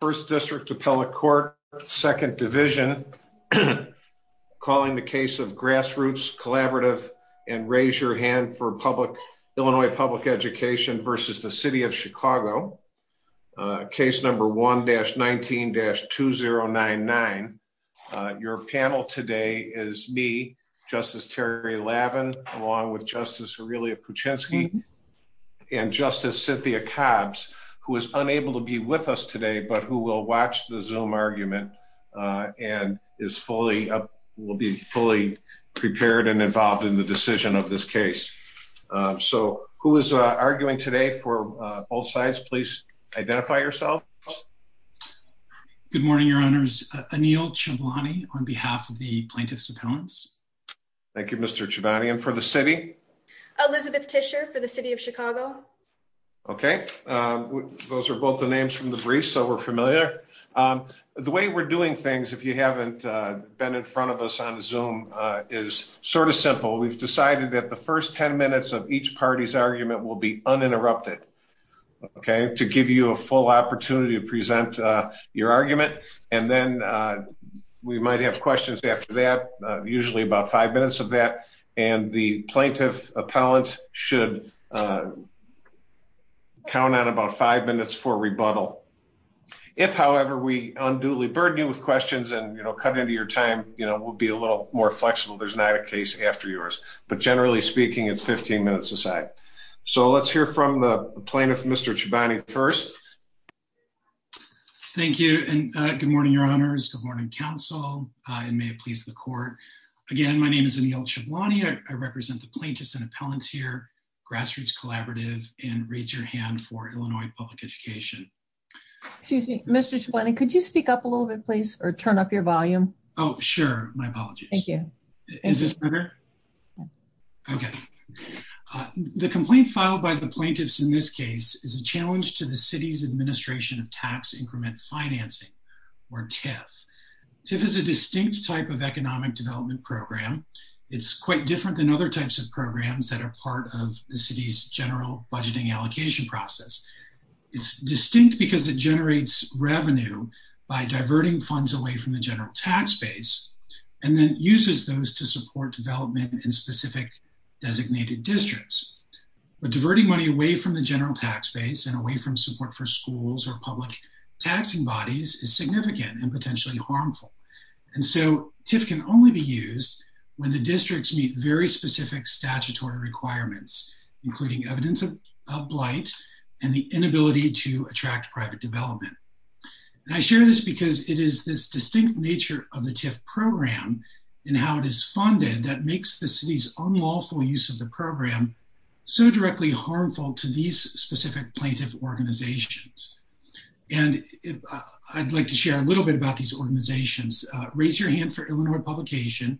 First District Appellate Court, Second Division, calling the case of Grassroots Collaborative and Raise Your Hand for Illinois Public Education vs. the City of Chicago, case number 1-19-2099. Your panel today is me, Justice Terry Lavin, along with Justice Aurelia Puchinski and Justice Cynthia Cabbs, who is unable to be with us today, but who will watch the Zoom argument and is fully, will be fully prepared and involved in the decision of this case. So who is arguing today for both sides? Please identify yourselves. Good morning, Your Honors. Anil Chivani on behalf of the Plaintiff's Appellants. And for the City? Elizabeth Tischer for the City of Chicago. Okay. Those are both the names from the briefs, so we're familiar. The way we're doing things, if you haven't been in front of us on Zoom, is sort of simple. We've decided that the first 10 minutes of each party's argument will be uninterrupted, okay, to give you a full opportunity to present your argument. And then we might have questions after that, usually about five minutes of that. And the Plaintiff's Appellant should count on about five minutes for rebuttal. If however, we unduly burden you with questions and cut into your time, we'll be a little more flexible. There's not a case after yours. But generally speaking, it's 15 minutes a side. So let's hear from the Plaintiff, Mr. Chivani, first. Thank you. And good morning, Your Honors. Good morning, Council. And may it please the Court. Again, my name is Anil Chivani. I represent the Plaintiffs and Appellants here, Grassroots Collaborative, and Raise Your Hand for Illinois Public Education. Excuse me, Mr. Chivani, could you speak up a little bit, please, or turn up your volume? Oh, sure. My apologies. Thank you. Is this better? Okay. The complaint filed by the Plaintiffs in this case is a challenge to the City's Administration of Tax Increment Financing, or TIF. TIF is a distinct type of economic development program. It's quite different than other types of programs that are part of the City's general budgeting allocation process. It's distinct because it generates revenue by diverting funds away from the general tax base and then uses those to support development in specific designated districts. But diverting money away from the general tax base and away from support for schools or public taxing bodies is significant and potentially harmful. And so, TIF can only be used when the districts meet very specific statutory requirements, including evidence of blight and the inability to attract private development. And I share this because it is this distinct nature of the TIF program and how it is funded that makes the City's unlawful use of the program so directly harmful to these specific plaintiff organizations. And I'd like to share a little bit about these organizations. Raise Your Hand for Illinois Publication,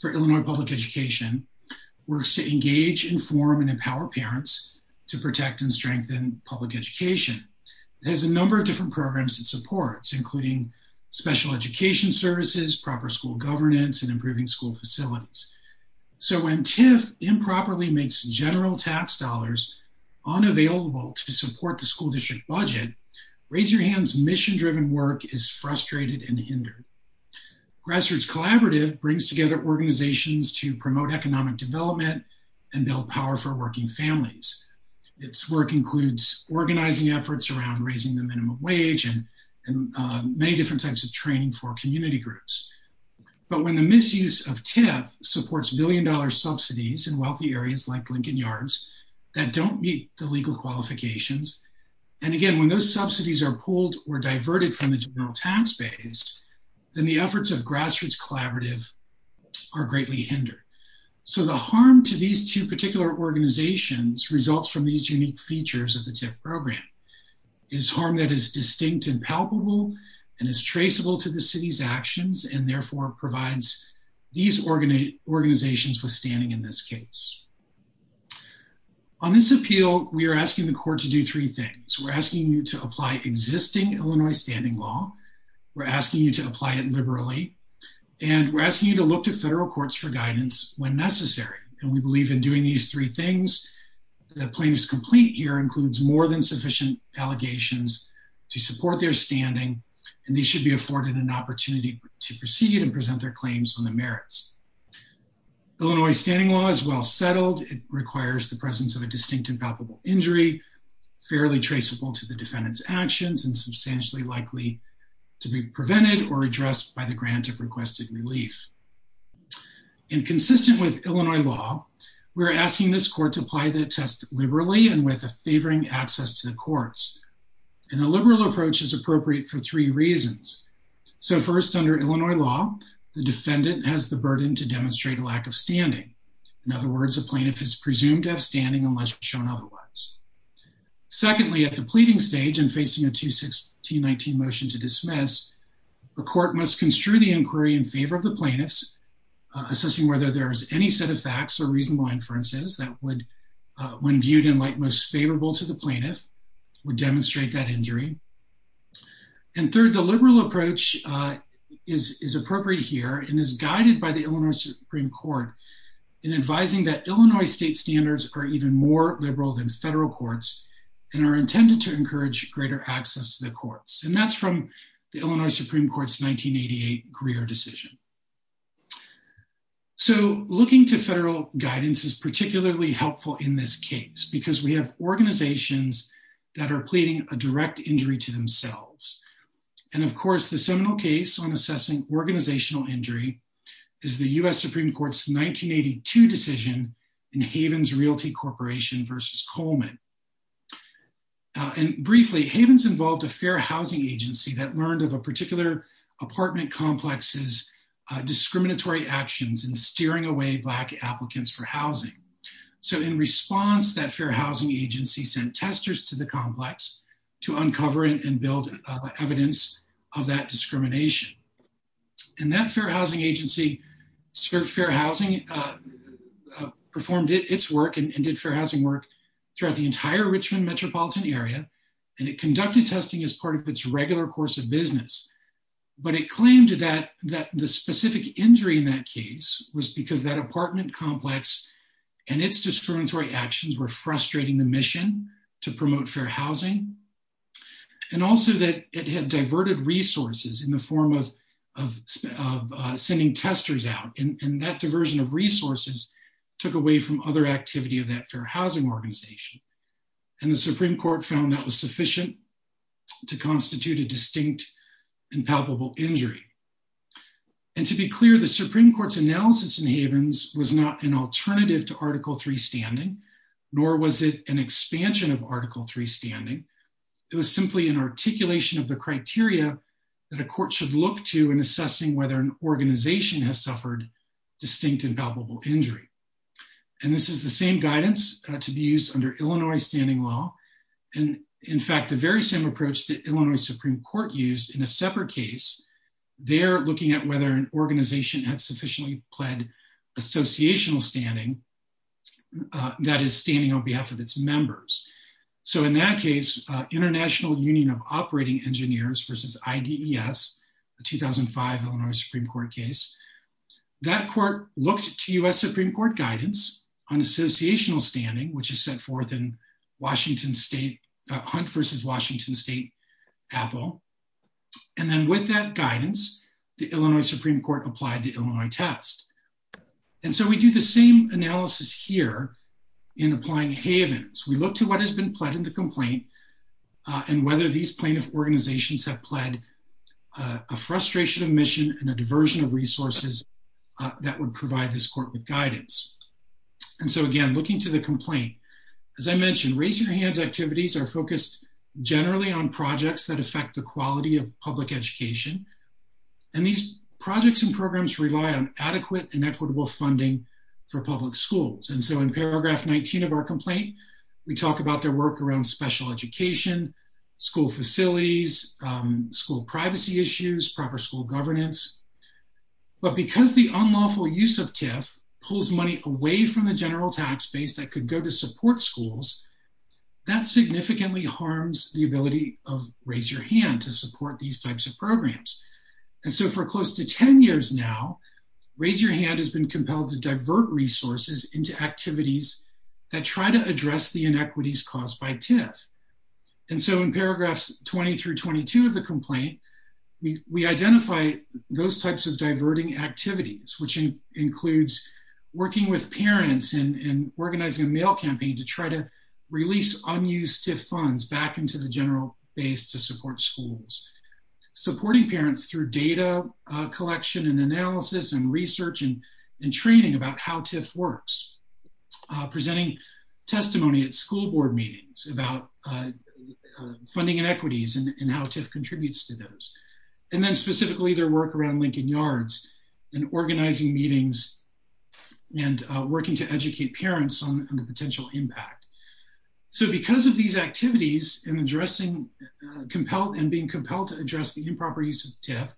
for Illinois Public Education, works to engage, inform, and empower parents to protect and strengthen public education. It has a number of different programs it supports, including special education services, proper school governance, and improving school facilities. So when TIF improperly makes general tax dollars unavailable to support the school district budget, Raise Your Hand's mission-driven work is frustrated and hindered. Grassroots Collaborative brings together organizations to promote economic development and build powerful working families. Its work includes organizing efforts around raising the minimum wage and many different types of training for community groups. But when the misuse of TIF supports billion-dollar subsidies in wealthy areas like Lincoln Yards that don't meet the legal qualifications, and again, when those subsidies are pulled or diverted from the general tax base, then the efforts of Grassroots Collaborative are greatly hindered. So the harm to these two particular organizations results from these unique features of the TIF program. It's harm that is distinct and palpable and is traceable to the city's actions and therefore provides these organizations withstanding in this case. On this appeal, we are asking the court to do three things. We're asking you to apply existing Illinois standing law. We're asking you to apply it liberally. And we're asking you to look to federal courts for guidance when necessary. And we believe in doing these three things, the plaintiff's complaint here includes more than sufficient allegations to support their standing, and they should be afforded an opportunity to proceed and present their claims on the merits. Illinois standing law is well settled. It requires the presence of a distinct and palpable injury, fairly traceable to the defendant's actions, and substantially likely to be prevented or addressed by the grant of requested relief. In consistent with Illinois law, we're asking this court to apply the test liberally and with a favoring access to the courts. And the liberal approach is appropriate for three reasons. So first, under Illinois law, the defendant has the burden to demonstrate a lack of standing. In other words, a plaintiff is presumed to have standing unless shown otherwise. Secondly, at the pleading stage and facing a 216-19 motion to dismiss, the court must construe the inquiry in favor of the plaintiffs, assessing whether there is any set of facts or reasonable inferences that would, when viewed in light most favorable to the plaintiff, would demonstrate that injury. And third, the liberal approach is appropriate here and is guided by the Illinois Supreme Court in advising that Illinois state standards are even more liberal than federal courts and are intended to encourage greater access to the courts. And that's from the Illinois Supreme Court's 1988 Greer decision. So, looking to federal guidance is particularly helpful in this case because we have organizations that are pleading a direct injury to themselves. And of course, the seminal case on assessing organizational injury is the U.S. Supreme Court's 1982 decision in Havens Realty Corporation v. Coleman. And briefly, Havens involved a fair housing agency that learned of a particular apartment complex's discriminatory actions in steering away Black applicants for housing. So, in response, that fair housing agency sent testers to the complex to uncover and build evidence of that discrimination. And that fair housing agency, Fair Housing, performed its work and did fair housing work throughout the entire Richmond metropolitan area, and it conducted testing as part of its regular course of business. But it claimed that the specific injury in that case was because that apartment complex and its discriminatory actions were frustrating the mission to promote fair housing, and also that it had diverted resources in the form of sending testers out, and that diversion of resources took away from other activity of that fair housing organization. And the Supreme Court found that was sufficient to constitute a distinct and palpable injury. And to be clear, the Supreme Court's analysis in Havens was not an alternative to Article 3 standing, nor was it an expansion of Article 3 standing. It was simply an articulation of the criteria that a court should look to in assessing whether an organization has suffered distinct and palpable injury. And this is the same guidance to be used under Illinois standing law, and in fact, the very same approach that Illinois Supreme Court used in a separate case, they're looking at whether an organization has sufficiently pled associational standing, that is, standing on behalf of its members. So in that case, International Union of Operating Engineers versus IDES, a 2005 Illinois Supreme Court case, that court looked to U.S. Supreme Court guidance on associational standing, which is set forth in Washington State, Hunt versus Washington State, Apple. And then with that guidance, the Illinois Supreme Court applied the Illinois test. And so we do the same analysis here in applying Havens. We look to what has been pled in the complaint, and whether these plaintiff organizations have pled a frustration of mission and a diversion of resources that would provide this court with guidance. And so again, looking to the complaint, as I mentioned, Raise Your Hands activities are focused generally on projects that affect the quality of public education. And these projects and programs rely on adequate and equitable funding for public schools. And so in paragraph 19 of our complaint, we talk about their work around special education, school facilities, school privacy issues, proper school governance. But because the unlawful use of TIF pulls money away from the general tax base that could go to support schools, that significantly harms the ability of Raise Your Hand to support these types of programs. And so for close to 10 years now, Raise Your Hand has been compelled to divert resources into activities that try to address the inequities caused by TIF. And so in paragraphs 20 through 22 of the complaint, we identify those types of diverting activities, which includes working with parents and organizing a mail campaign to try to release unused TIF funds back into the general base to support schools, supporting parents through data collection and analysis and research and training about how TIF works, presenting testimony at school board meetings about funding inequities and how TIF contributes to those. And then specifically their work around Lincoln Yards and organizing meetings and working to educate parents on the potential impact. So because of these activities and being compelled to address the improper use of TIF,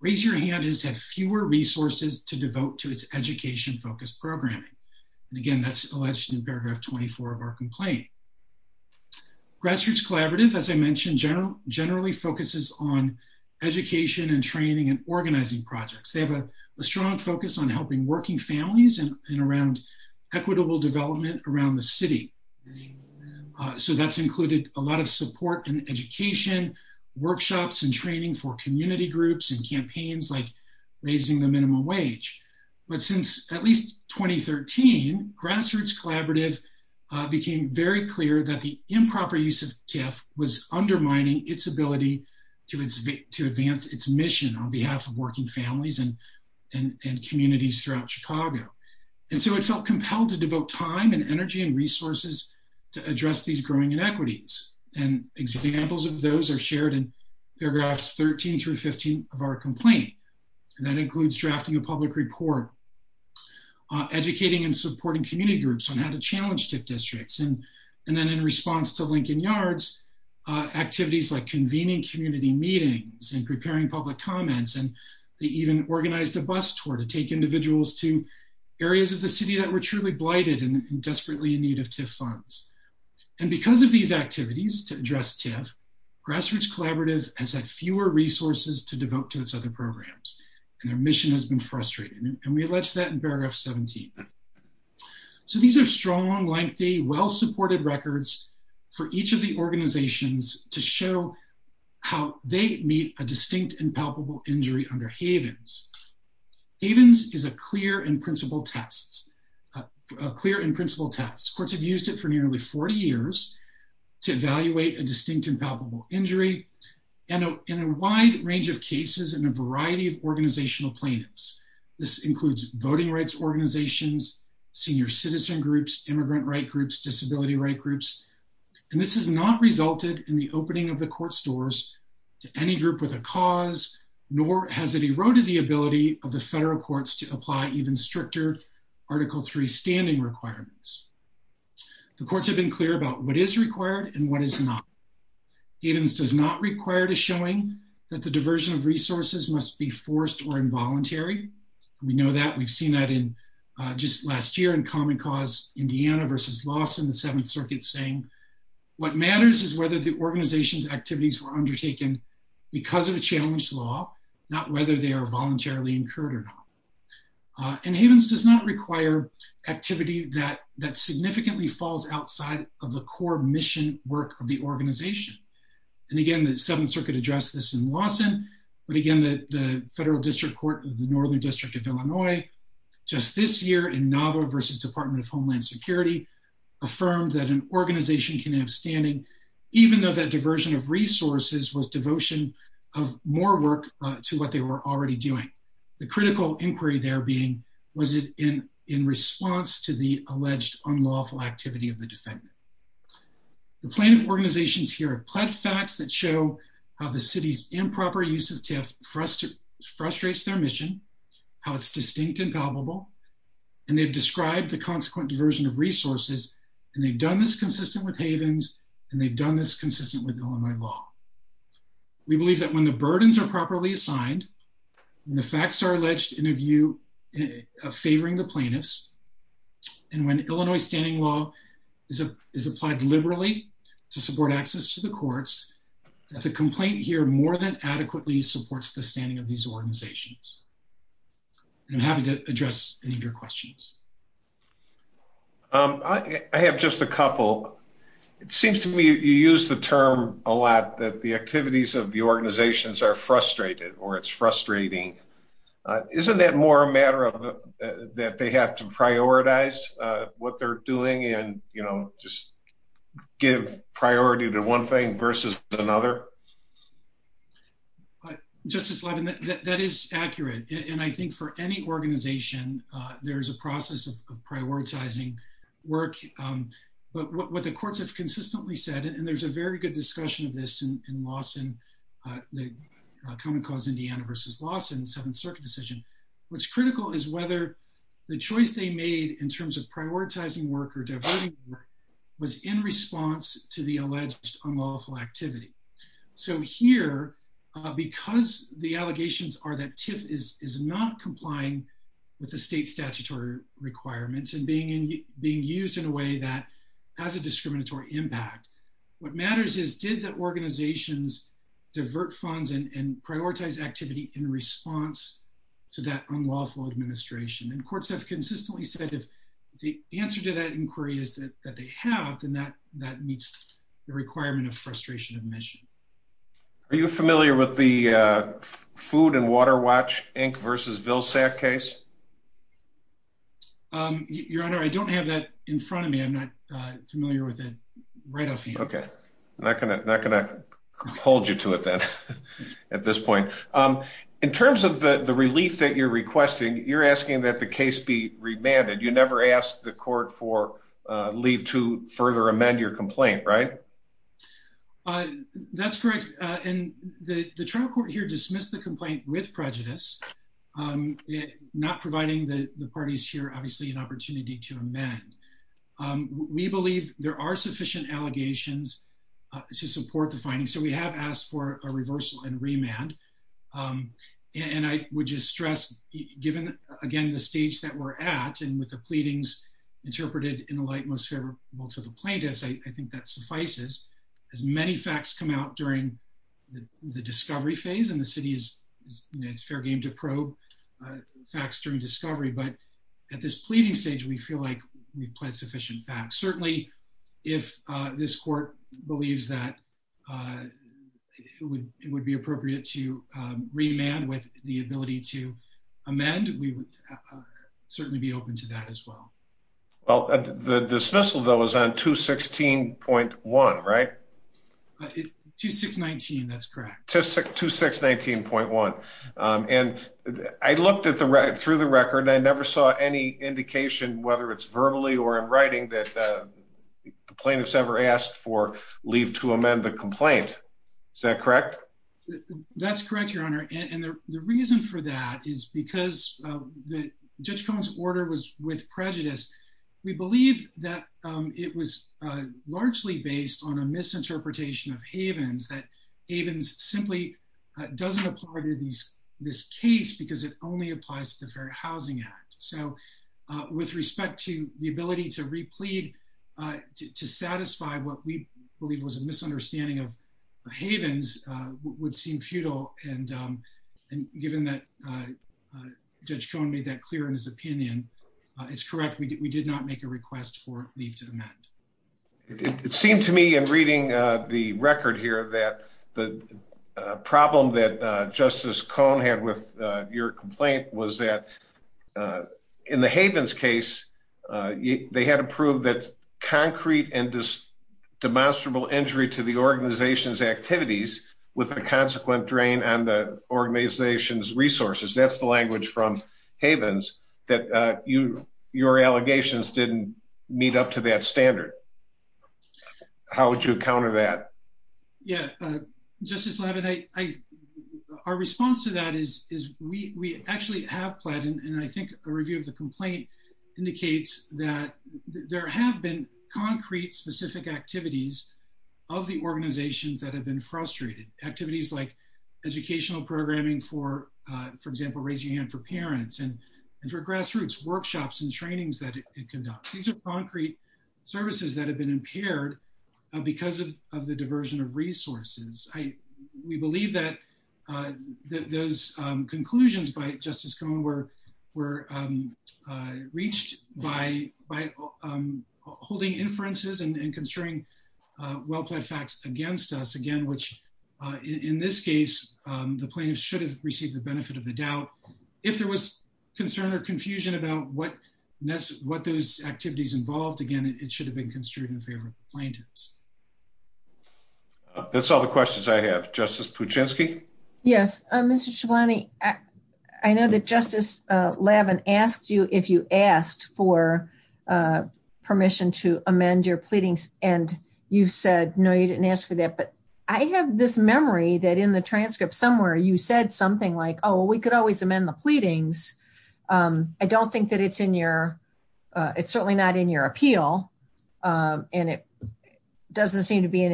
Raise Your Hand has had fewer resources to devote to its education-focused programming. And again, that's alleged in paragraph 24 of our complaint. Grassroots Collaborative, as I mentioned, generally focuses on education and training and organizing projects. They have a strong focus on helping working families and around equitable development around the city. So that's included a lot of support and education, workshops and training for community groups and campaigns like raising the minimum wage. But since at least 2013, Grassroots Collaborative became very clear that the improper use of TIF was undermining its ability to advance its mission on behalf of working families and communities throughout Chicago. And so it felt compelled to devote time and energy and resources to address these growing inequities. And examples of those are shared in paragraphs 13 through 15 of our complaint. And that includes drafting a public report, educating and supporting community groups on how to challenge TIF districts. And then in response to Lincoln Yards, activities like convening community meetings and preparing public comments. And they even organized a bus tour to take individuals to areas of the city that were truly blighted and desperately in need of TIF funds. And because of these activities to address TIF, Grassroots Collaborative has had fewer resources to devote to its other programs and their mission has been frustrating. And we allege that in paragraph 17. So these are strong, lengthy, well-supported records for each of the organizations to show how they meet a distinct and palpable injury under Havens. Havens is a clear and principled test, a clear and principled test. Courts have used it for nearly 40 years to evaluate a distinct and palpable injury. And in a wide range of cases in a variety of organizational plaintiffs. This includes voting rights organizations, senior citizen groups, immigrant right groups, disability right groups. And this has not resulted in the opening of the court stores to any group with a cause, nor has it eroded the ability of the federal courts to apply even stricter Article III standing requirements. The courts have been clear about what is required and what is not. Havens does not require the showing that the diversion of resources must be forced or involuntary. We know that we've seen that in just last year in Common Cause Indiana versus Lawson, the Seventh Circuit saying what matters is whether the organization's activities were undertaken because of a challenged law, not whether they are voluntarily incurred or not. And Havens does not require activity that that significantly falls outside of the core mission work of the organization. And again, the Seventh Circuit addressed this in Lawson, but again, the federal district court of the Northern District of Illinois just this year in Nava versus Department of Homeland Security affirmed that an organization can have standing even though that diversion of resources was devotion of more work to what they were already doing. The critical inquiry there being was it in in response to the alleged unlawful activity of the defendant. The plaintiff organizations here have pled facts that show how the city's improper use of TIF frustrates their mission, how it's distinct and palpable, and they've described the consequent diversion of resources and they've done this consistent with Havens and they've done this consistent with Illinois law. We believe that when the burdens are properly assigned and the facts are alleged in a favoring the plaintiffs and when Illinois standing law is applied liberally to support access to the courts, the complaint here more than adequately supports the standing of these organizations. And I'm happy to address any of your questions. I have just a couple. It seems to me you use the term a lot that the activities of the organizations are frustrated or it's frustrating. Isn't that more a matter of that they have to prioritize what they're doing and, you know, just give priority to one thing versus another? Justice Levin, that is accurate. And I think for any organization, there is a process of prioritizing work. But what the courts have consistently said, and there's a very good discussion of this in Lawson, the Common Cause Indiana versus Lawson Seventh Circuit decision. What's critical is whether the choice they made in terms of prioritizing work or diverting work was in response to the alleged unlawful activity. So here, because the allegations are that TIFF is not complying with the state statutory requirements and being used in a way that has a discriminatory impact, what organizations divert funds and prioritize activity in response to that unlawful administration? And courts have consistently said if the answer to that inquiry is that they have, then that that meets the requirement of frustration of mission. Are you familiar with the Food and Water Watch Inc. versus Vilsack case? Your Honor, I don't have that in front of me. I'm not familiar with it right off. OK, I'm not going to hold you to it then at this point. In terms of the relief that you're requesting, you're asking that the case be remanded. You never asked the court for leave to further amend your complaint, right? That's correct. And the trial court here dismissed the complaint with prejudice, not providing the parties here, obviously, an opportunity to amend. We believe there are sufficient allegations to support the findings. So we have asked for a reversal and remand. And I would just stress, given, again, the stage that we're at and with the pleadings interpreted in the light most favorable to the plaintiffs, I think that suffices as many facts come out during the discovery phase. And the city is fair game to probe facts during discovery. But at this pleading stage, we feel like we've pled sufficient facts. Certainly, if this court believes that it would be appropriate to remand with the ability to amend, we would certainly be open to that as well. Well, the dismissal, though, is on 216.1, right? 2619, that's correct. 2619.1. And I looked at the right through the record. I never saw any indication, whether it's verbally or in writing, that the plaintiffs ever asked for leave to amend the complaint. Is that correct? That's correct, Your Honor. And the reason for that is because Judge Cohen's order was with prejudice. We believe that it was largely based on a misinterpretation of Havens, that Havens simply doesn't apply to this case because it only applies to the Fair Housing Act. So with respect to the ability to replead to satisfy what we believe was a misunderstanding of Havens would seem futile. And given that Judge Cohen made that clear in his opinion, it's correct. We did not make a request for leave to amend. It seemed to me in reading the record here that the problem that Justice Cohen had with your complaint was that in the Havens case, they had to prove that concrete and demonstrable injury to the organization's activities with a consequent drain on the organization's resources. That's the language from Havens, that your allegations didn't meet up to that standard. How would you counter that? Yeah, Justice Leavitt, our response to that is we actually have pledged, and I think a review of the complaint indicates that there have been concrete, specific activities of the organizations that have been frustrated. Activities like educational programming for, for example, raising your hand for parents and for grassroots workshops and trainings that it conducts. These are concrete services that have been impaired because of the diversion of resources. We believe that those conclusions by Justice Cohen were reached by holding inferences and constrain well-plaid facts against us again, which in this case, the plaintiffs should have received the benefit of the doubt. If there was concern or confusion about what those activities involved, again, it should have been construed in favor of plaintiffs. That's all the questions I have. Justice Puchinski? Yes, Mr. Chivani, I know that Justice Lavin asked you if you asked for permission to amend your pleadings and you said no, you didn't ask for that. But I have this memory that in the transcript somewhere you said something like, oh, we could always amend the pleadings. I don't think that it's in your it's certainly not in your appeal and it doesn't seem to be in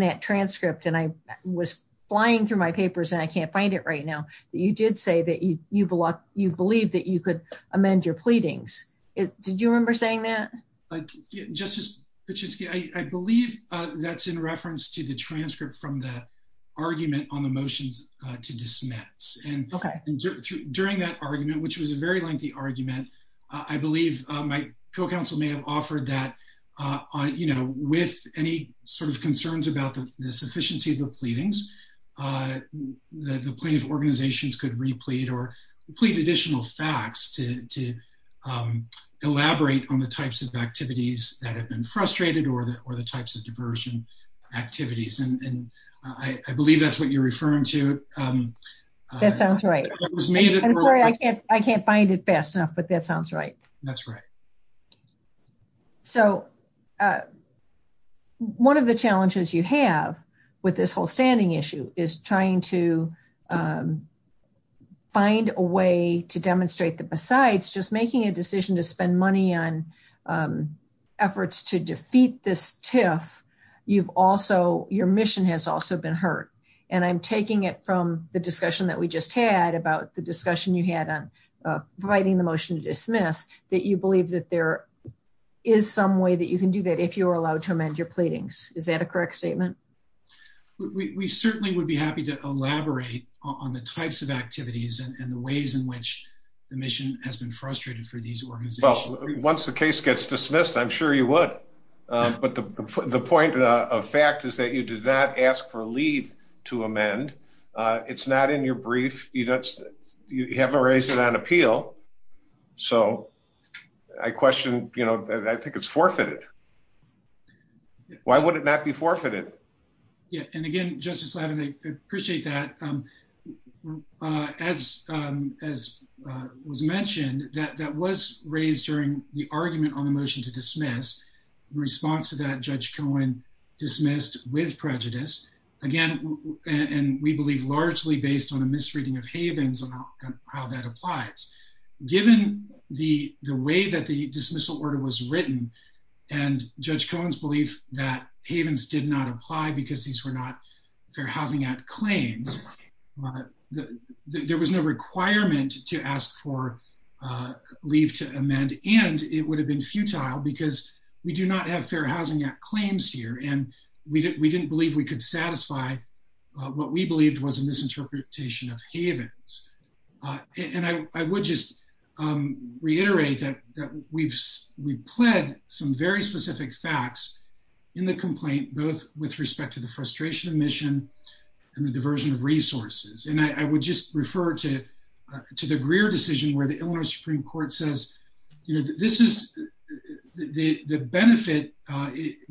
that transcript. And I was flying through my papers and I can't find it right now. You did say that you believe that you could amend your pleadings. Did you remember saying that? Justice Puchinski, I believe that's in reference to the transcript from the argument on the motions to dismiss. And during that argument, which was a very lengthy argument, I believe my co-counsel may have offered that, you know, with any sort of concerns about the sufficiency of the pleadings, the plaintiff organizations could replete or complete additional facts to elaborate on the types of activities that have been frustrated or the types of diversion activities. And I believe that's what you're referring to. That sounds right. I'm sorry, I can't find it fast enough, but that sounds right. That's right. So one of the challenges you have with this whole standing issue is trying to find a way to demonstrate that besides just making a decision to spend money on efforts to defeat this TIF, you've also your mission has also been hurt. And I'm taking it from the discussion that we just had about the discussion you had on providing the motion to dismiss that you believe that there is some way that you can do that if you are allowed to amend your pleadings. Is that a correct statement? We certainly would be happy to elaborate on the types of activities and the ways in which the mission has been frustrated for these organizations. Once the case gets dismissed, I'm sure you would. But the point of fact is that you did not ask for a leave to amend. It's not in your brief. You haven't raised it on appeal. So I question, you know, I think it's forfeited. Why would it not be forfeited? Yeah. And again, Justice Levin, I appreciate that. As as was mentioned, that was raised during the argument on the motion to dismiss in response to that, Judge Cohen dismissed with prejudice again, and we believe largely based on a misreading of Havens and how that applies. Given the the way that the dismissal order was written and Judge Cohen's belief that Havens did not apply because these were not Fair Housing Act claims, there was no requirement to ask for leave to amend. And it would have been futile because we do not have Fair Housing Act claims here. And we didn't believe we could satisfy what we believed was a misinterpretation of Havens. And I would just reiterate that that we've we've pled some very specific facts in the complaint, both with respect to the frustration of mission and the diversion of resources. And I would just refer to to the Greer decision where the Illinois Supreme Court says, you know, this is the benefit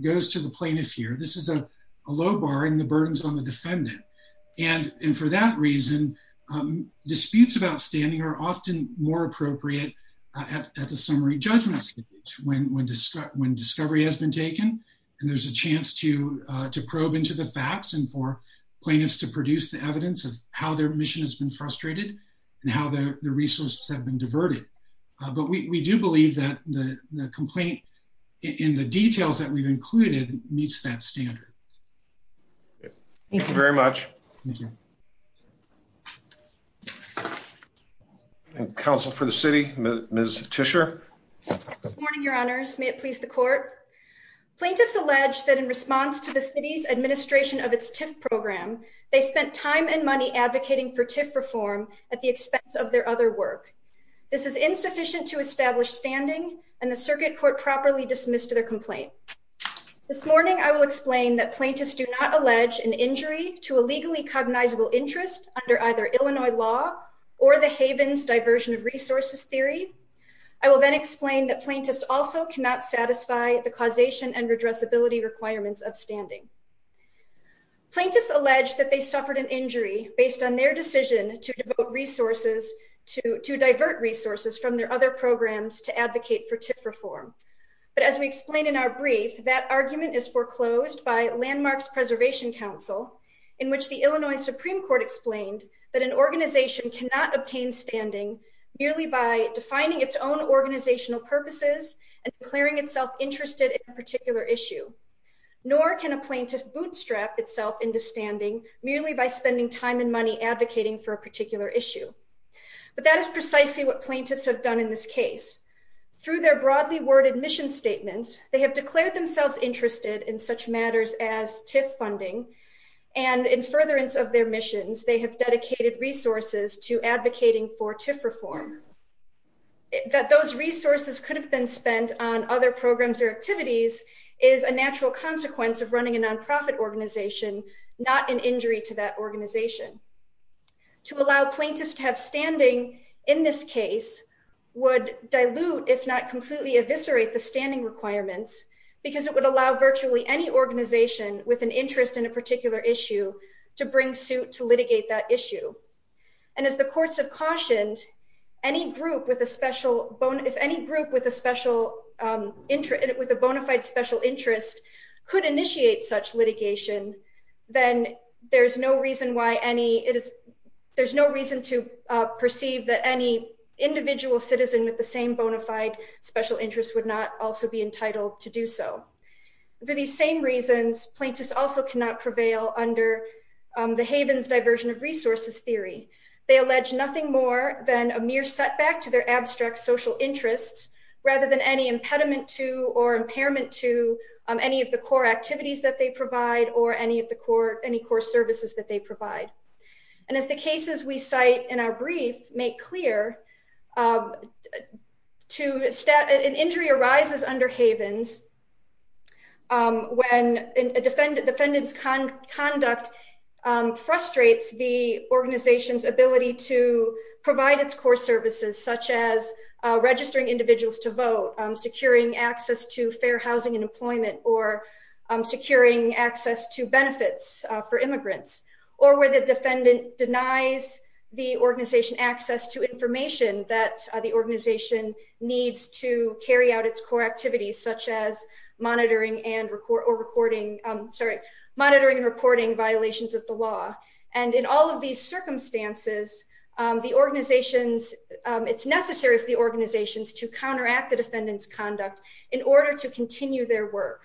goes to the plaintiff here. This is a low barring the burdens on the defendant. And for that reason, disputes of outstanding are often more appropriate at the summary judgment stage when discovery has been taken and there's a chance to to probe into the facts and for plaintiffs to produce the evidence of how their mission has been frustrated and how the resources have been diverted. But we do believe that the complaint in the details that we've included meets that standard. Thank you very much. Thank you. And counsel for the city, Ms. Tischer. Good morning, your honors. May it please the court. Plaintiffs allege that in response to the city's administration of its TIF program, they spent time and money advocating for TIF reform at the expense of their other work. This is insufficient to establish standing and the circuit court properly dismissed to their complaint. This morning, I will explain that plaintiffs do not allege an injury to a legally cognizable interest under either Illinois law or the Havens diversion of resources theory. I will then explain that plaintiffs also cannot satisfy the causation and redressability requirements of standing. Plaintiffs allege that they suffered an injury based on their decision to devote resources to to divert resources from their other programs to advocate for TIF reform. But as we explained in our brief, that argument is foreclosed by Landmarks Preservation Council, in which the Illinois Supreme Court explained that an organization cannot obtain standing merely by defining its own organizational purposes and declaring itself interested in a particular issue, nor can a plaintiff bootstrap itself into standing merely by spending time and money advocating for a particular issue. But that is precisely what plaintiffs have done in this case. Through their broadly worded mission statements, they have declared themselves interested in such matters as TIF funding and in furtherance of their missions, they have dedicated resources to advocating for TIF reform. That those resources could have been spent on other programs or activities is a natural consequence of running a nonprofit organization, not an injury to that organization. To allow plaintiffs to have standing in this case would dilute, if not completely eviscerate the standing requirements because it would allow virtually any organization with an interest in a particular issue to bring suit to litigate that issue. And as the courts have cautioned, any group with a special bone, if any group with a special interest with a bona fide special interest could initiate such litigation, then there's no reason why any it is there's no reason to perceive that any individual citizen with the same bona fide special interest would not also be entitled to do so. For these same reasons, plaintiffs also cannot prevail under the Haven's diversion of resources theory. They allege nothing more than a mere setback to their abstract social interests rather than any impediment to or impairment to any of the core activities that they provide or any of the core any core services that they provide. And as the cases we cite in our brief make clear to an injury arises under Haven's. When a defendant defendant's conduct frustrates the organization's ability to provide its core services, such as registering individuals to vote, securing access to fair benefits for immigrants, or where the defendant denies the organization access to information that the organization needs to carry out its core activities, such as monitoring and reporting, sorry, monitoring and reporting violations of the law. And in all of these circumstances, the organizations it's necessary for the organizations to counteract the defendant's conduct in order to continue their work.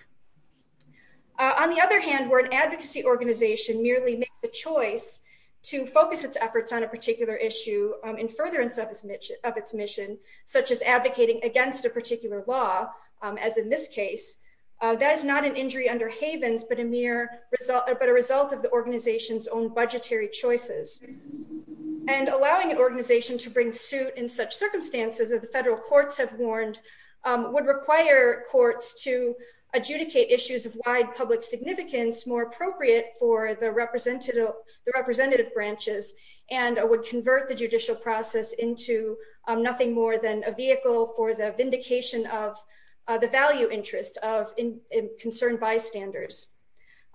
On the other hand, where an advocacy organization merely makes the choice to focus its efforts on a particular issue in furtherance of its mission, of its mission, such as advocating against a particular law, as in this case, that is not an injury under Haven's, but a mere result, but a result of the organization's own budgetary choices. And allowing an organization to bring suit in such circumstances that the federal courts have warned would require courts to adjudicate issues of wide public significance more appropriate for the representative, the representative branches, and would convert the judicial process into nothing more than a vehicle for the vindication of the value interests of concerned bystanders.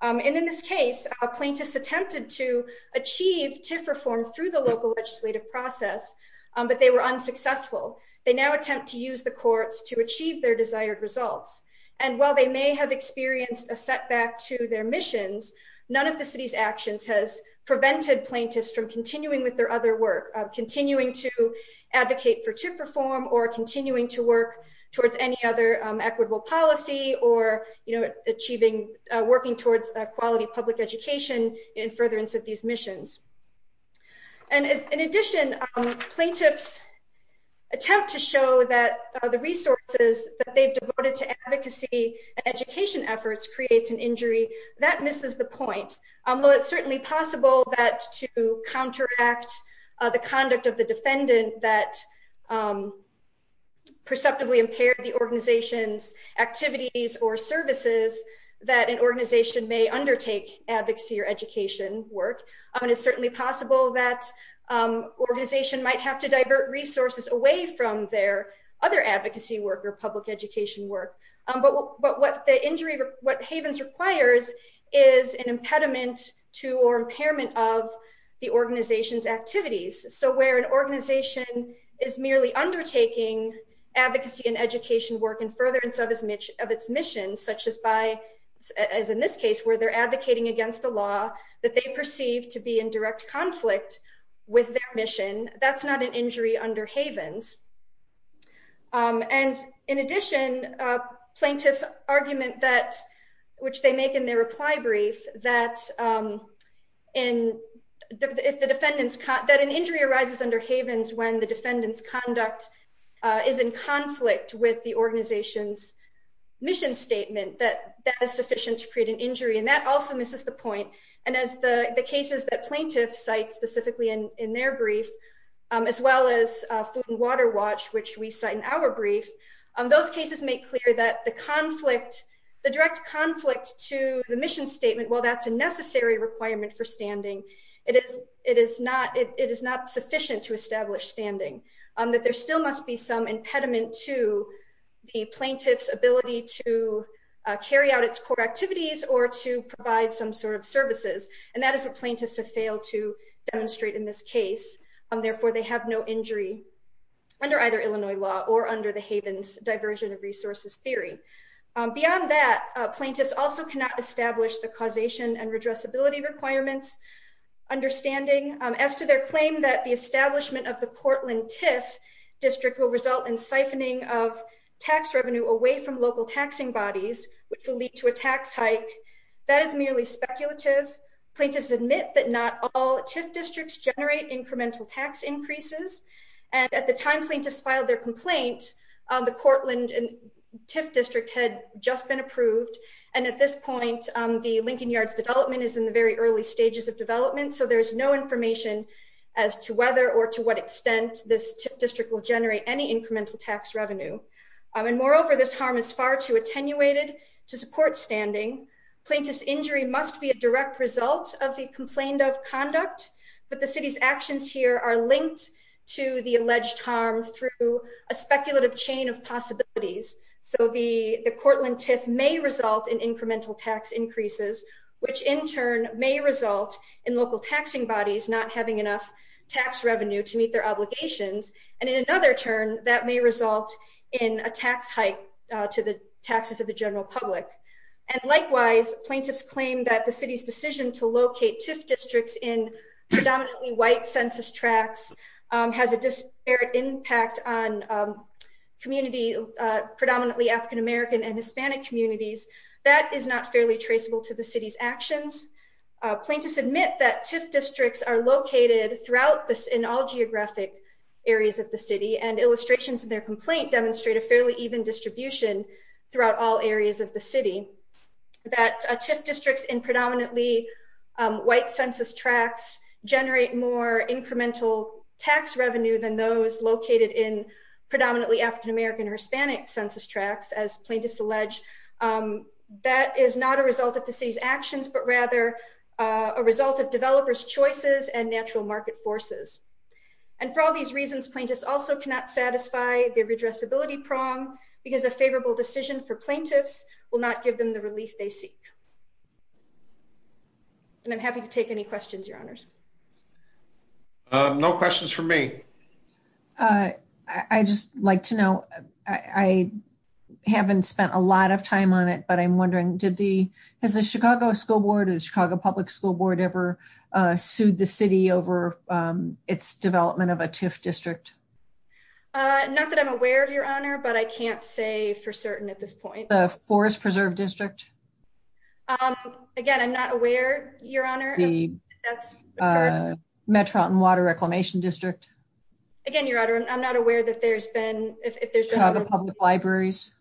And in this case, plaintiffs attempted to achieve TIF reform through the local legislative process, but they were unsuccessful. They now attempt to use the courts to achieve their desired results. And while they may have experienced a setback to their missions, none of the city's actions has prevented plaintiffs from continuing with their other work, continuing to advocate for TIF reform or continuing to work towards any other equitable policy or, you know, achieving, working towards a quality public education in furtherance of these efforts. And the attempt to show that the resources that they've devoted to advocacy and education efforts creates an injury, that misses the point. While it's certainly possible that to counteract the conduct of the defendant that perceptively impaired the organization's activities or services, that an organization may undertake advocacy or education work. And it's certainly possible that organization might have to divert resources away from their other advocacy work or public education work. But what the injury, what Havens requires is an impediment to or impairment of the organization's activities. So where an organization is merely undertaking advocacy and education work in furtherance of its mission, such as by, as in this case, where they're advocating against a mission that they perceive to be in direct conflict with their mission, that's not an injury under Havens. And in addition, plaintiffs' argument that, which they make in their reply brief, that in the defendants, that an injury arises under Havens when the defendant's conduct is in conflict with the organization's mission statement, that that is sufficient to create an impediment to the plaintiff's ability to carry out its core activities or to provide some sort of services. And that is what plaintiffs argue in their brief, which is that it is not, it is not sufficient to establish standing, that there still must be some impediment to the plaintiff's ability to carry out its core activities or to provide some sort of services. And that is what plaintiffs have failed to demonstrate in this case. Therefore, they have no injury under either Illinois law or under the Havens diversion of resources theory. Beyond that, plaintiffs also cannot establish the causation and redressability requirements understanding as to their claim that the establishment of the Cortland-Tiff district will result in siphoning of tax revenue away from local taxing bodies, which will lead to a tax hike. That is merely speculative. Plaintiffs admit that not all Tiff districts generate incremental tax increases. And at the time plaintiffs filed their complaint, the Cortland-Tiff district had just been approved. And at this point, the Lincoln Yards development is in the very early stages of development. So there is no information as to whether or to what extent this district will generate any incremental tax revenue. And moreover, this harm is far too attenuated to support standing. Plaintiff's injury must be a direct result of the complained of conduct. But the city's actions here are linked to the alleged harm through a speculative chain of possibilities. So the Cortland-Tiff may result in incremental tax increases, which in turn may result in local taxing bodies not having enough tax revenue to meet their in a tax hike to the taxes of the general public. And likewise, plaintiffs claim that the city's decision to locate Tiff districts in predominantly white census tracts has a disparate impact on community, predominantly African-American and Hispanic communities. That is not fairly traceable to the city's actions. Plaintiffs admit that Tiff districts are located throughout this in all geographic areas of the city and illustrations of their complaint demonstrate a fairly even distribution throughout all areas of the city, that Tiff districts in predominantly white census tracts generate more incremental tax revenue than those located in predominantly African-American or Hispanic census tracts. As plaintiffs allege, that is not a result of the city's actions, but rather a result of developers choices and natural market forces. And for all these reasons, plaintiffs also cannot satisfy the redressability prong because a favorable decision for plaintiffs will not give them the relief they seek. And I'm happy to take any questions, your honors. No questions for me. I just like to know, I haven't spent a lot of time on it, but I'm wondering, did the Has the Chicago School Board or the Chicago Public School Board ever sued the city over its development of a Tiff district? Not that I'm aware of, your honor, but I can't say for certain at this point. The Forest Preserve District? Again, I'm not aware, your honor. The Metropolitan Water Reclamation District? Again, your honor, I'm not aware that there's been, if there's been... Chicago Public Libraries?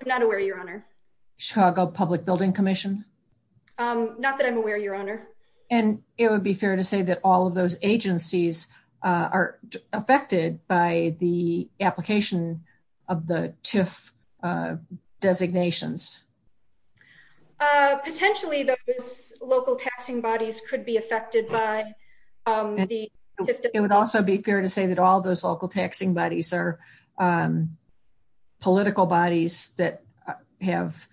I'm not aware, your honor. Chicago Public Building Commission? Not that I'm aware, your honor. And it would be fair to say that all of those agencies are affected by the application of the Tiff designations? Potentially, those local taxing bodies could be affected by the Tiff. It would also be fair to say that all those local taxing bodies are political bodies that have,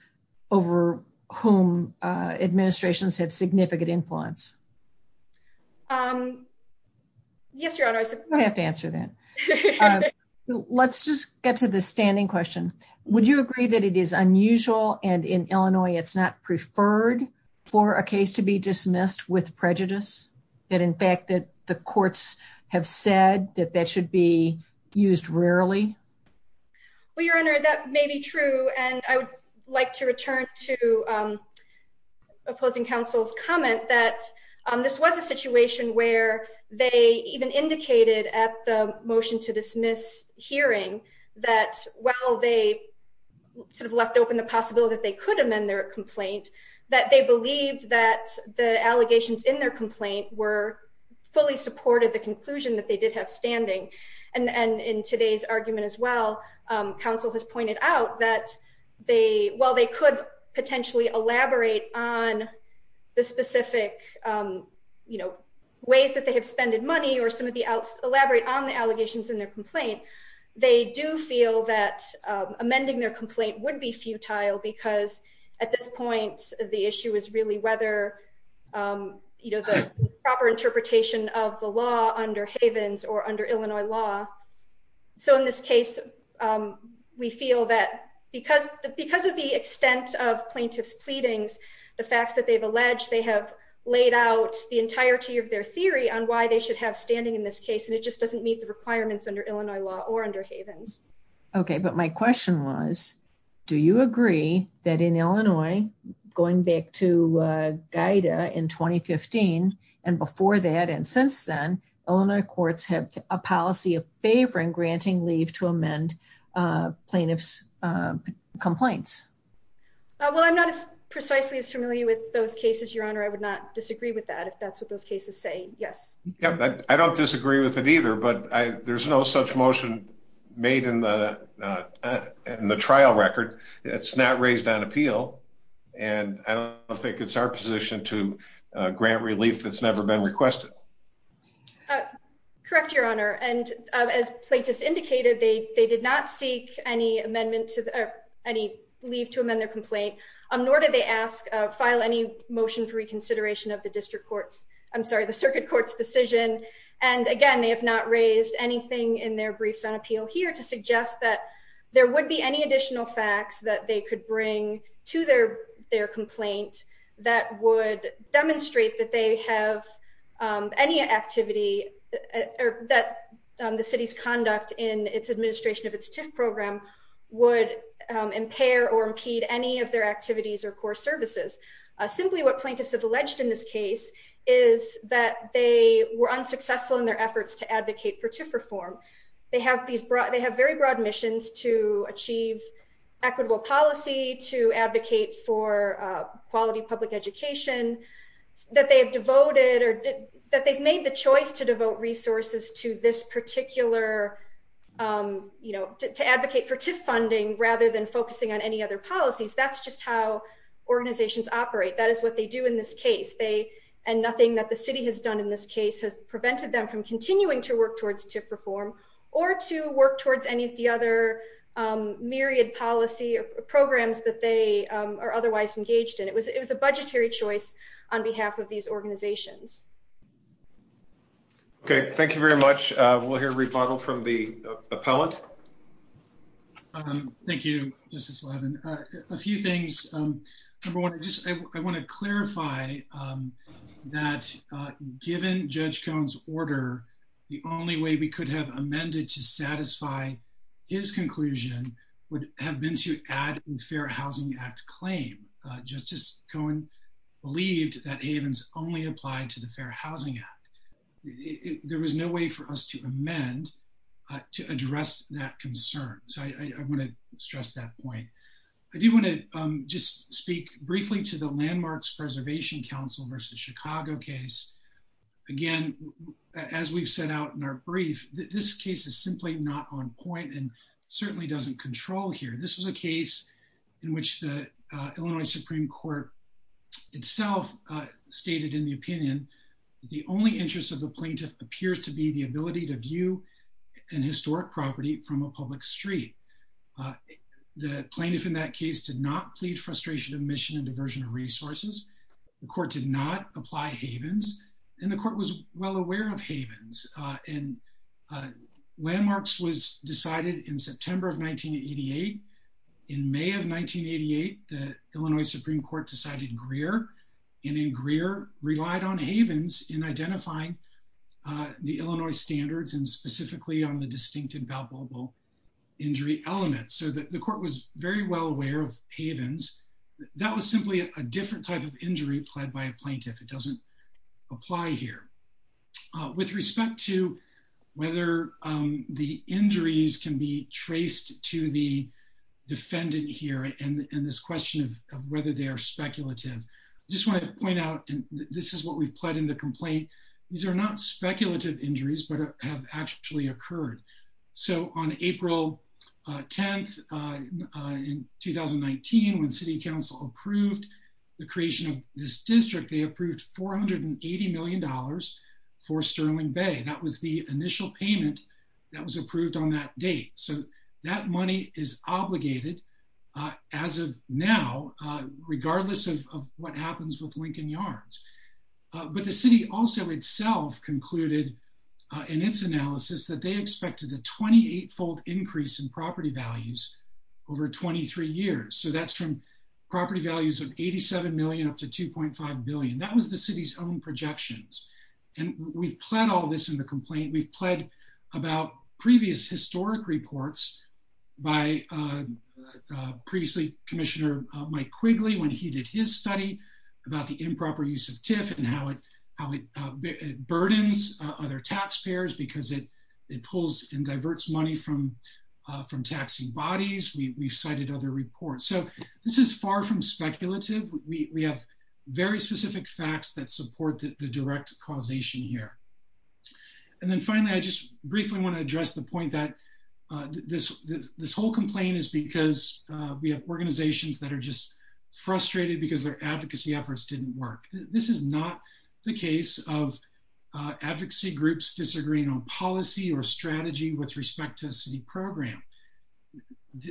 over whom administrations have significant influence. Yes, your honor. I have to answer that. Let's just get to the standing question. Would you agree that it is unusual and in Illinois, it's not preferred for a case to be dismissed with prejudice? That in fact, that the courts have said that that should be used rarely? Well, your honor, that may be true. And I would like to return to opposing counsel's comment that this was a situation where they even indicated at the motion to dismiss hearing that while they sort of left open the possibility that they could amend their complaint, that they believed that the allegations in their complaint were fully supported the conclusion that they did have standing. And, and in today's argument as well, counsel has pointed out that they, while they could potentially elaborate on the specific, you know, ways that they have spended money or some of the elaborate on the allegations in their complaint, they do feel that amending their complaint would be futile because at this point, the issue is really whether, you know, the proper interpretation of the law under Havens or under Illinois law. So in this case, we feel that because, because of the extent of plaintiff's pleadings, the facts that they've alleged, they have laid out the entirety of their theory on why they should have standing in this case. And it just doesn't meet the requirements under Illinois law or under Havens. Okay. But my question was, do you agree that in Illinois, going back to Gaida in 2015 and before that, and since then Illinois courts have a policy of favoring granting leave to amend a plaintiff's complaints? Well, I'm not as precisely as familiar with those cases, your honor. I would not disagree with that. If that's what those cases say. Yes. I don't disagree with it either, but I, there's no such motion made in the, uh, in the trial record, it's not raised on appeal and I don't think it's our relief that's never been requested. Correct. Your honor. And, uh, as plaintiffs indicated, they, they did not seek any amendment to any leave to amend their complaint. Um, nor did they ask, uh, file any motion for reconsideration of the district courts, I'm sorry, the circuit court's decision. And again, they have not raised anything in their briefs on appeal here to suggest that there would be any additional facts that they could bring to their, their complaint that would demonstrate that they have, um, any activity that, um, the city's conduct in its administration of its TIF program would impair or impede any of their activities or core services, uh, simply what plaintiffs have alleged in this case is that they were unsuccessful in their efforts to advocate for TIF reform. They have these broad, they have very broad missions to achieve equitable policy, to advocate for, uh, quality public education that they have devoted or that they've made the choice to devote resources to this particular. Um, you know, to, to advocate for TIF funding rather than focusing on any other policies. That's just how organizations operate. That is what they do in this case. They, and nothing that the city has done in this case has prevented them from continuing to work towards TIF reform or to work towards any of the other, um, period policy or programs that they, um, are otherwise engaged in. It was, it was a budgetary choice on behalf of these organizations. Okay. Thank you very much. Uh, we'll hear a rebuttal from the appellate. Um, thank you, Justice Levin. Uh, a few things. Um, number one, I just, I want to clarify, um, that, uh, given Judge Cohen's order, the only way we could have amended to satisfy his conclusion would have been to add the Fair Housing Act claim. Uh, Justice Cohen believed that Havens only applied to the Fair Housing Act. It, there was no way for us to amend, uh, to address that concern. So I, I want to stress that point. I do want to, um, just speak briefly to the Landmarks Preservation Council versus Chicago case. Again, as we've set out in our brief, this case is simply not on point and certainly doesn't control here. This was a case in which the, uh, Illinois Supreme Court itself, uh, stated in the opinion, the only interest of the plaintiff appears to be the ability to view an historic property from a public street. Uh, the plaintiff in that case did not plead frustration of mission and diversion of resources. The court did not apply Havens and the court was well aware of Havens, uh, and, uh, Landmarks was decided in September of 1988. In May of 1988, the Illinois Supreme Court decided Greer and in Greer relied on Havens in identifying, uh, the Illinois standards and specifically on the distinct and palpable injury element. So that the court was very well aware of Havens, that was simply a different type of injury pled by a plaintiff. It doesn't apply here. Uh, with respect to whether, um, the injuries can be traced to the defendant here and this question of whether they are speculative, I just want to point out, and this is what we've pled in the complaint, these are not speculative injuries, but have actually occurred. So on April 10th, uh, in 2019, when city council approved the creation of this property, uh, it was estimated to be worth $2.5 billion for Sterling Bay. That was the initial payment that was approved on that date. So that money is obligated, uh, as of now, uh, regardless of what happens with Lincoln Yarns. Uh, but the city also itself concluded, uh, in its analysis that they expected a 28 fold increase in property values over 23 years. So that's from property values of 87 million up to 2.5 billion. That was the city's own projections. And we've pled all of this in the complaint. We've pled about previous historic reports by, uh, uh, previously commissioner, uh, Mike Quigley, when he did his study about the improper use of TIF and how it, how it, uh, burdens, uh, other taxpayers because it, it pulls and diverts money from, uh, from taxing bodies. We we've cited other reports. So this is far from speculative. We have very specific facts that support the direct causation here. And then finally, I just briefly want to address the point that, uh, this, this, this whole complaint is because, uh, we have organizations that are just frustrated because their advocacy efforts didn't work. This is not the case of, uh, advocacy groups disagreeing on policy or strategy with respect to the city program.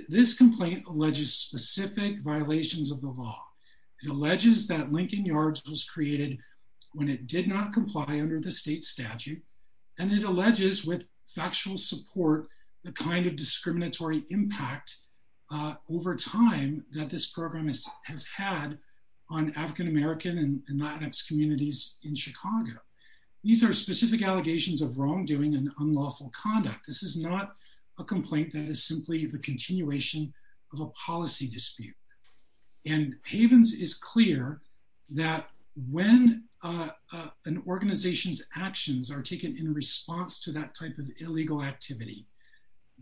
This complaint alleges specific violations of the law. It alleges that Lincoln Yards was created when it did not comply under the state statute. And it alleges with factual support, the kind of discriminatory impact, uh, over time that this program has had on African American and Latinx communities in Chicago. These are specific allegations of wrongdoing and unlawful conduct. This is not a complaint that is simply the continuation of a policy dispute. And Havens is clear that when, uh, uh, an organization's actions are taken in response to that type of illegal activity,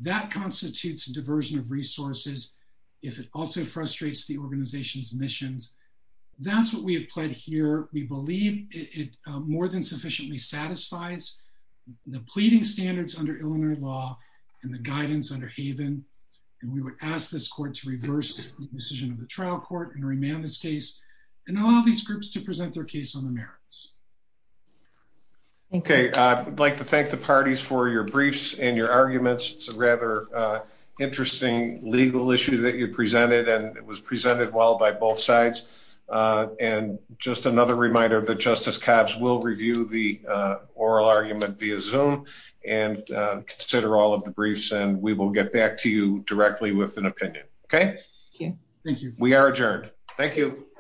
that constitutes a diversion of resources, if it also frustrates the organization's missions, that's what we have pled here. We believe it more than sufficiently satisfies the pleading standards under Illinois law and the guidance under Haven. And we would ask this court to reverse the decision of the trial court and remand this case and allow these groups to present their case on the merits. Okay. I'd like to thank the parties for your briefs and your arguments. It's a rather, uh, interesting legal issue that you presented and it was presented well by both sides. Uh, and just another reminder of the justice cops will review the, uh, oral argument via zoom. And, uh, consider all of the briefs and we will get back to you directly with an opinion. Okay. Thank you. We are adjourned. Thank you.